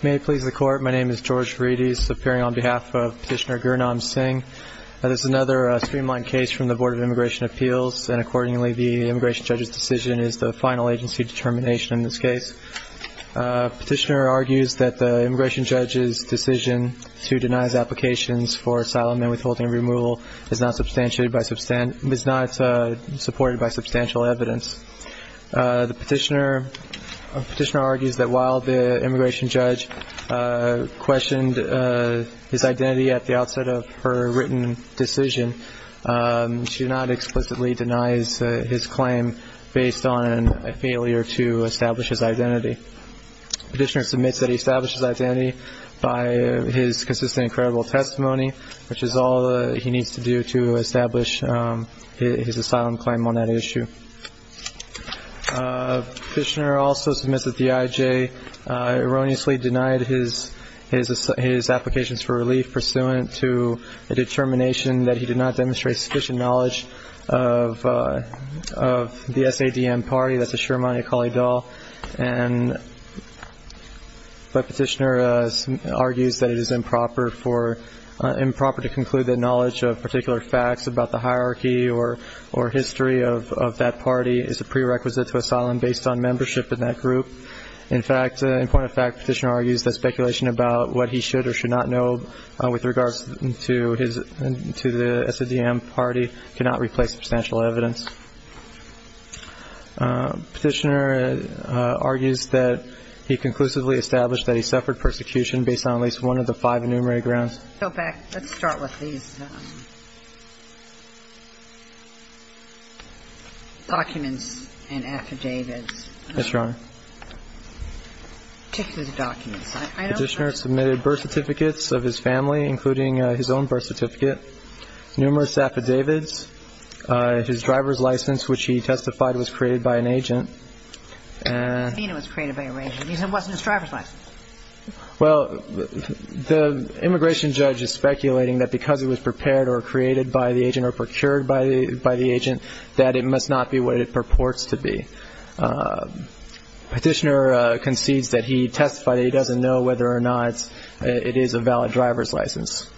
May it please the Court, my name is George Varedes, appearing on behalf of Petitioner Gurnam Singh. This is another streamlined case from the Board of Immigration Appeals and accordingly the Immigration Judge's decision is the final agency determination in this case. Petitioner argues that the Immigration Judge's decision to deny his applications for asylum and withholding removal is not supported by substantial evidence. The Petitioner argues that while the Immigration Judge questioned his identity at the outset of her written decision, she did not explicitly deny his claim based on a failure to establish his identity, which is all he needs to do to establish his asylum claim on that issue. Petitioner also submits that the IJ erroneously denied his applications for relief pursuant to a determination that he did not demonstrate sufficient knowledge of the SADM party, that's the Shirmani Akali Dal, but Petitioner argues that it is improper for an immigration judge to conclude that knowledge of particular facts about the hierarchy or history of that party is a prerequisite to asylum based on membership in that group. In fact, in point of fact, Petitioner argues that speculation about what he should or should not know with regards to the SADM party cannot replace substantial evidence. Petitioner argues that he conclusively established that he suffered persecution based on at least one of the five enumerated grounds. So, back, let's start with these documents and affidavits. Yes, Your Honor. Particularly the documents. I know that... Petitioner submitted birth certificates of his family, including his own birth certificate, numerous affidavits. His driver's license, which he testified was created by an agent. I don't mean it was created by an agent. He said it wasn't his driver's license. Well, the immigration judge is speculating that because it was prepared or created by the agent or procured by the agent, that it must not be what it purports to be. Petitioner concedes that he testified that he doesn't know whether or not it is a valid driver's license.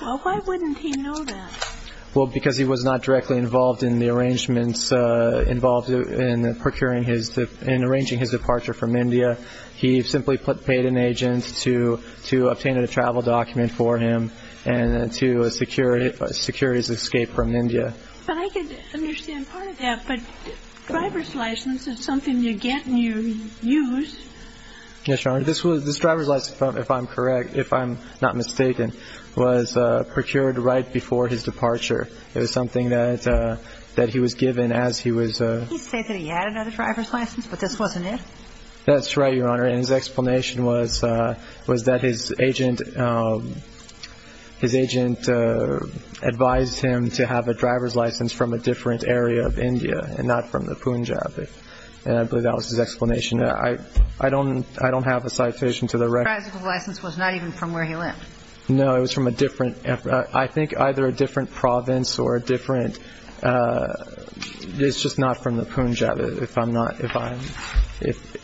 Well, why wouldn't he know that? Well, because he was not directly involved in the arrangements involved in procuring his... in arranging his departure from India. He simply paid an agent to obtain a travel document for him and to secure his escape from India. But I could understand part of that, but driver's license is something you get and you use. Yes, Your Honor. This driver's license, if I'm correct, if I'm not mistaken, was procured right before his departure. It was something that he was given as he was... He said that he had another driver's license, but this wasn't it? That's right, Your Honor. And his explanation was that his agent advised him to have a driver's license from a different area of India and not from the Punjab. And I believe that was his explanation. I don't have a citation to the record. The driver's license was not even from where he lived? No, it was from a different... I think either a different province or a different... It's just not from the Punjab, if I'm not...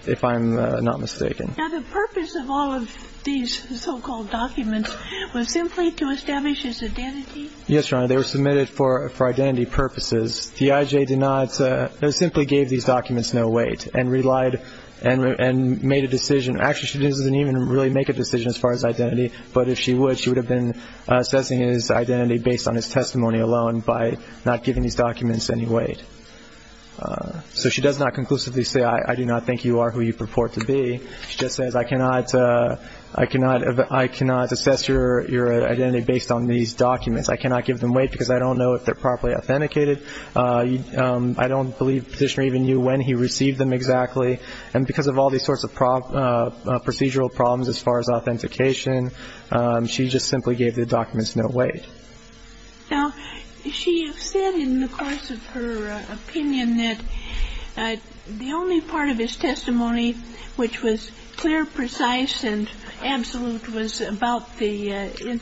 if I'm not mistaken. Now, the purpose of all of these so-called documents was simply to establish his identity? Yes, Your Honor. They were submitted for identity purposes. The IJ did not... They simply gave these documents no weight and relied... and made a decision. Actually, she doesn't even really make a decision as far as identity, but if she would, she would have been assessing his identity based on his testimony alone by not giving these documents any weight. So she does not conclusively say, I do not think you are who you purport to be. She just says, I cannot... I cannot assess your identity based on these documents. I cannot give them weight because I don't know if they're properly authenticated. I don't believe the petitioner even knew when he received them exactly. And because of all these sorts of procedural problems as far as authentication, she just simply gave the documents no weight. Now, she said in the course of her opinion that the only part of his testimony which was clear, precise, and absolute was about the...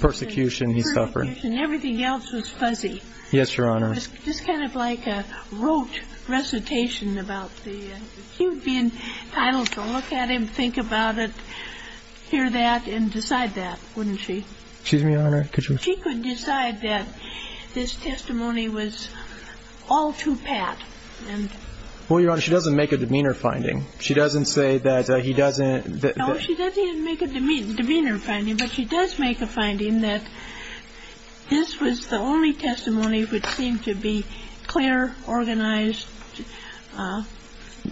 Persecution he suffered. Persecution. Everything else was fuzzy. Yes, Your Honor. It was just kind of like a rote recitation about the... she would be entitled to look at him, think about it, hear that, and decide that, wouldn't she? Excuse me, Your Honor, could you... She could decide that this testimony was all too pat and... Well, Your Honor, she doesn't make a demeanor finding. She doesn't say that he doesn't... No, she doesn't even make a demeanor finding, but she does make a finding that this was the only testimony which seemed to be clear, organized, absolute.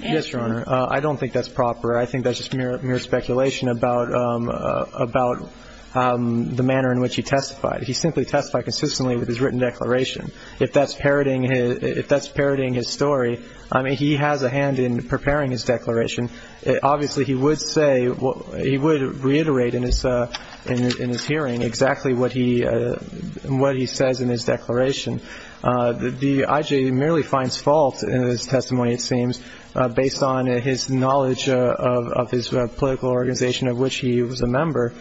Yes, Your Honor. I don't think that's proper. I think that's just mere speculation about the manner in which he testified. He simply testified consistently with his written declaration. If that's parroting his story, I mean, he has a hand in preparing his declaration. Obviously, he would say, he would reiterate in his hearing exactly what he says in his declaration. The I.G. merely finds fault in his testimony, it seems, based on his knowledge of his political organization of which he was a member.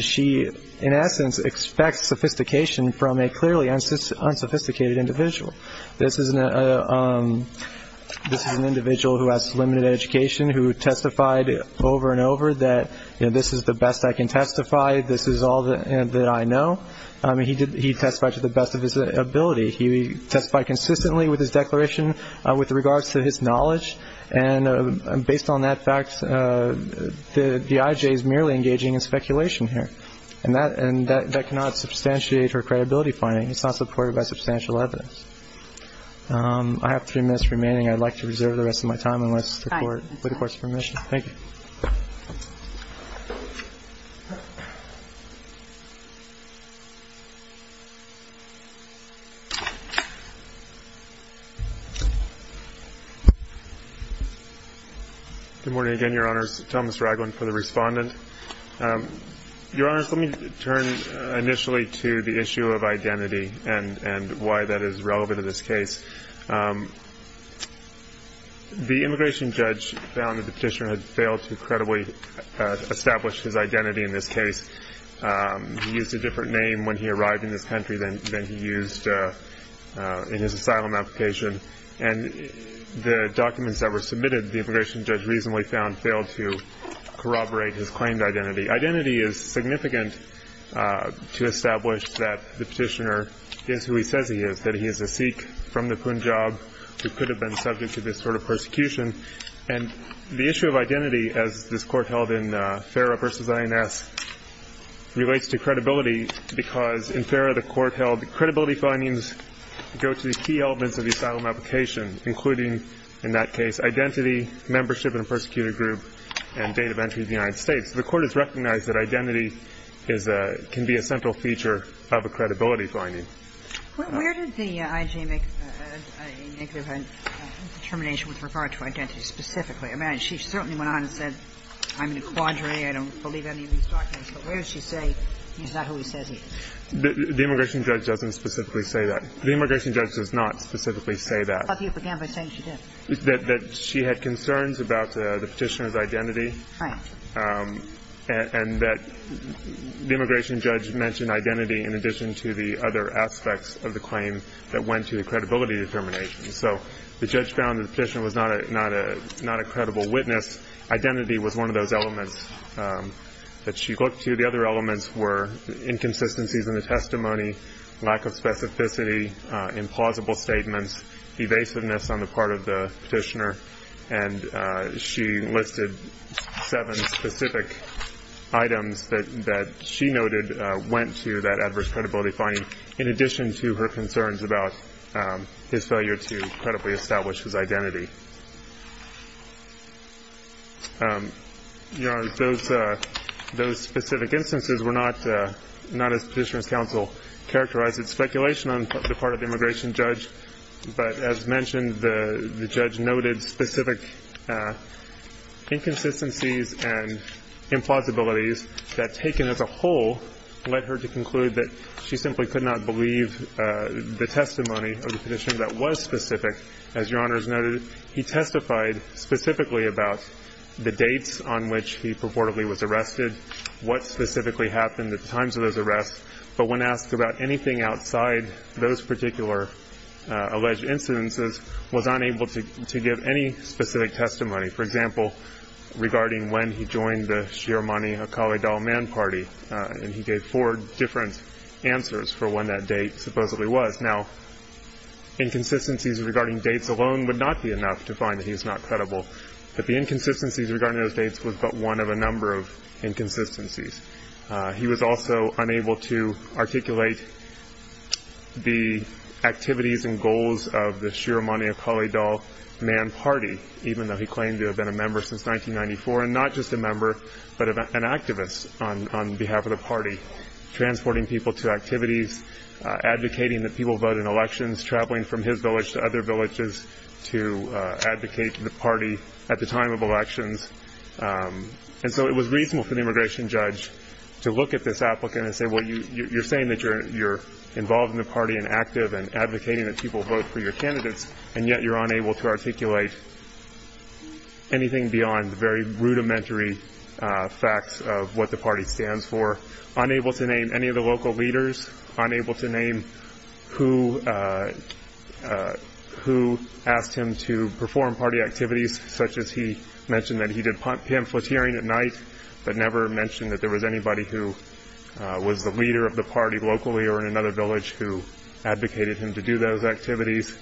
She, in essence, expects sophistication from a clearly unsophisticated individual. This is an individual who has limited education who testified over and over that this is the best I can testify, this is all that I know. He testified to the best of his ability. He testified consistently with his declaration with regards to his knowledge, and based on that fact, the I.G. is merely engaging in speculation here, and that cannot substantiate her credibility finding. It's not supported by substantial evidence. I have three minutes remaining. I'd like to reserve the rest of my time unless the Court requests permission. Thank you. Good morning again, Your Honors. Thomas Ragland for the Respondent. Your Honors, let me turn initially to the issue of identity and why that is relevant to this case. The immigration judge found that the petitioner had failed to credibly establish his identity in this case. He used a different name when he arrived in this country than he used in his asylum application, and the documents that were submitted the immigration judge reasonably found failed to corroborate his claimed identity. Identity is significant to establish that the petitioner is who he says he is, that he is a Sikh from the Punjab who could have been subject to this sort of persecution. And the issue of identity, as this Court held in Farah v. INS, relates to credibility because in Farah the Court held the credibility findings go to the key elements of the asylum application, including, in that case, identity, membership in a persecuted group, and date of entry to the United States. The Court has recognized that identity is a – can be a central feature of a credibility finding. Where did the IG make a negative determination with regard to identity specifically? I mean, she certainly went on and said, I'm in a quandary, I don't believe any of these documents. But where does she say he's not who he says he is? The immigration judge doesn't specifically say that. The immigration judge does not specifically say that. But you began by saying she did. That she had concerns about the petitioner's identity. Right. And that the immigration judge mentioned identity in addition to the other aspects of the claim that went to the credibility determination. So the judge found the petitioner was not a credible witness. Identity was one of those elements that she looked to. The other elements were inconsistencies in the testimony, lack of specificity, implausible statements, evasiveness on the part of the petitioner. And she listed seven specific items that she noted went to that adverse credibility finding. In addition to her concerns about his failure to credibly establish his identity. Your Honor, those specific instances were not, not as Petitioner's Counsel characterized as speculation on the part of the immigration judge. But as mentioned, the judge noted specific inconsistencies and implausibilities that taken as a whole led her to conclude that she simply could not believe the testimony of the petitioner that was specific. As Your Honor has noted, he testified specifically about the dates on which he purportedly was arrested. What specifically happened at the times of those arrests. But when asked about anything outside those particular alleged incidences, was unable to give any specific testimony. For example, regarding when he joined the Shiremani Akali Dal Man Party. And he gave four different answers for when that date supposedly was. Now, inconsistencies regarding dates alone would not be enough to find that he was not credible. But the inconsistencies regarding those dates was but one of a number of inconsistencies. He was also unable to articulate the activities and goals of the Shiremani Akali Dal Man Party, even though he claimed to have been a member since 1994. And not just a member, but an activist on behalf of the party. Transporting people to activities, advocating that people vote in elections, traveling from his village to other villages to advocate the party at the time of elections. And so it was reasonable for the immigration judge to look at this applicant and say, well, you're saying that you're involved in the party and active and advocating that people vote for your candidates, and yet you're unable to articulate anything beyond the very rudimentary facts of what the party stands for. Unable to name any of the local leaders. Unable to name who asked him to perform party activities, such as he mentioned that he did pamphleteering at night, but never mentioned that there was anybody who was the leader of the party locally or in another village who advocated him to do those activities.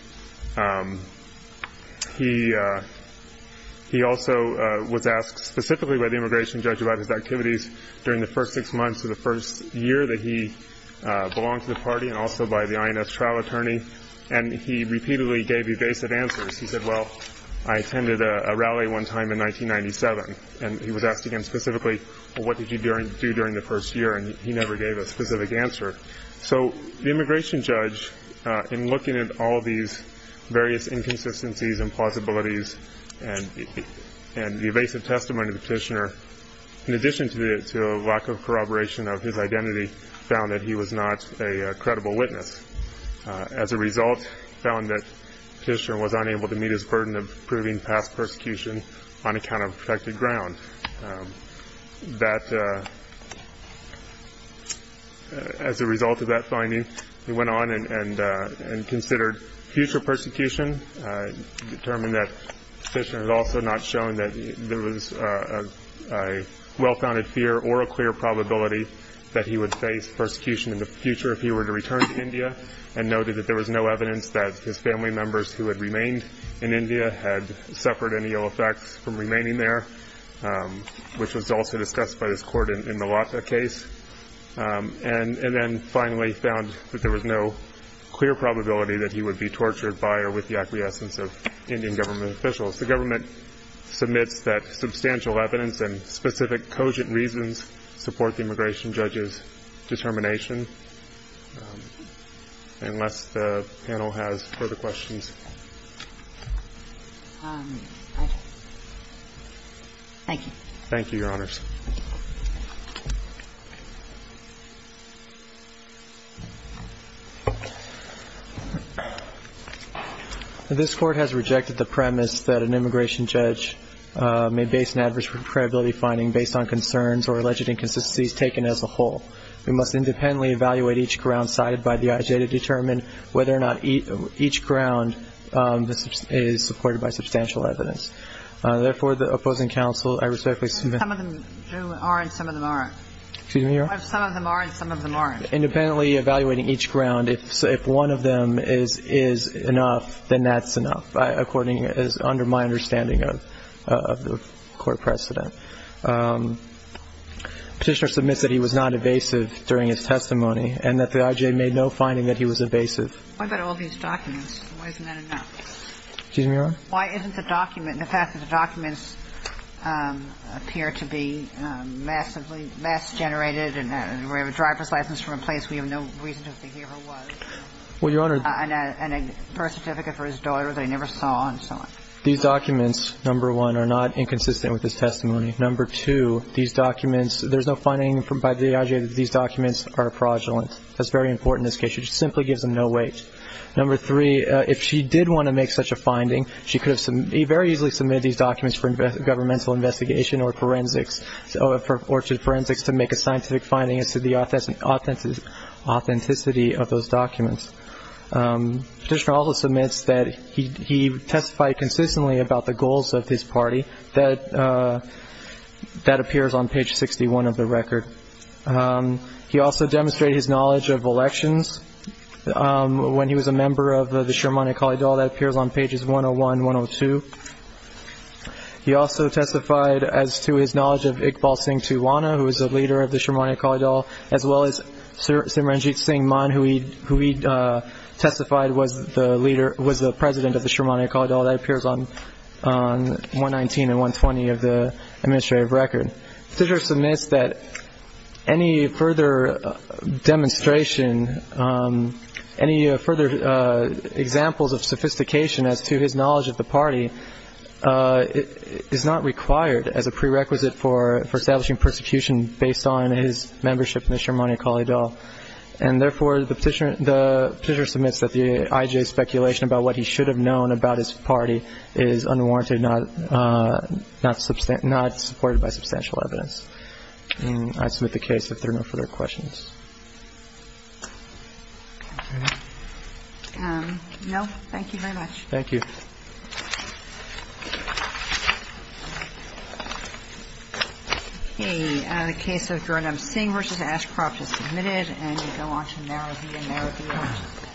He also was asked specifically by the immigration judge about his activities during the first six months of the first year that he belonged to the party and also by the INS trial attorney. And he repeatedly gave evasive answers. He said, well, I attended a rally one time in 1997, and he was asked again specifically, well, what did you do during the first year? And he never gave a specific answer. So the immigration judge, in looking at all these various inconsistencies and plausibilities and the evasive testimony of the petitioner, in addition to a lack of corroboration of his identity, found that he was not a credible witness. As a result, he found that the petitioner was unable to meet his burden of proving past persecution on account of protected ground. As a result of that finding, he went on and considered future persecution, determined that the petitioner had also not shown that there was a well-founded fear or a clear probability that he would face persecution in the future if he were to return to India and noted that there was no evidence that his family members who had remained in India had suffered any ill effects from remaining there, which was also discussed by this court in the Latha case, and then finally found that there was no clear probability that he would be tortured by or with the acquiescence of Indian government officials. The government submits that substantial evidence and specific cogent reasons support the immigration judge's determination, unless the panel has further questions. Thank you. Thank you, Your Honors. This Court has rejected the premise that an immigration judge may base an adverse or alleged inconsistencies taken as a whole. We must independently evaluate each ground cited by the IJ to determine whether or not each ground is supported by substantial evidence. Therefore, the opposing counsel, I respectfully submit. Some of them are and some of them aren't. Excuse me, Your Honor? Some of them are and some of them aren't. Independently evaluating each ground, if one of them is enough, then that's enough, under my understanding of the court precedent. Petitioner submits that he was not evasive during his testimony and that the IJ made no finding that he was evasive. What about all these documents? Why isn't that enough? Excuse me, Your Honor? Why isn't the document, the fact that the documents appear to be massively mass-generated and we have a driver's license to replace, we have no reason to think he ever was. Well, Your Honor. And a birth certificate for his daughter that he never saw and so on. These documents, number one, are not inconsistent with his testimony. Number two, these documents, there's no finding by the IJ that these documents are fraudulent. That's very important in this case. It just simply gives them no weight. Number three, if she did want to make such a finding, she could have very easily submitted these documents for governmental investigation or forensics to make a scientific finding as to the authenticity of those documents. Petitioner also submits that he testified consistently about the goals of his party. That appears on page 61 of the record. He also demonstrated his knowledge of elections. When he was a member of the Shermani Akali Dal, that appears on pages 101, 102. He also testified as to his knowledge of Iqbal Singh Tuwana, who was a leader of the Shermani Akali Dal. That appears on 119 and 120 of the administrative record. Petitioner submits that any further demonstration, any further examples of sophistication as to his knowledge of the party is not required as a prerequisite for establishing persecution based on his membership in the Shermani Akali Dal. And, therefore, the petitioner submits that the IJA speculation about what he should have known about his party is unwarranted, not supported by substantial evidence. And I submit the case if there are no further questions. No. Thank you very much. Thank you. Okay. The case of Jarnam Singh v. Ashcroft is submitted. And we go on to Narraveer Naraveer.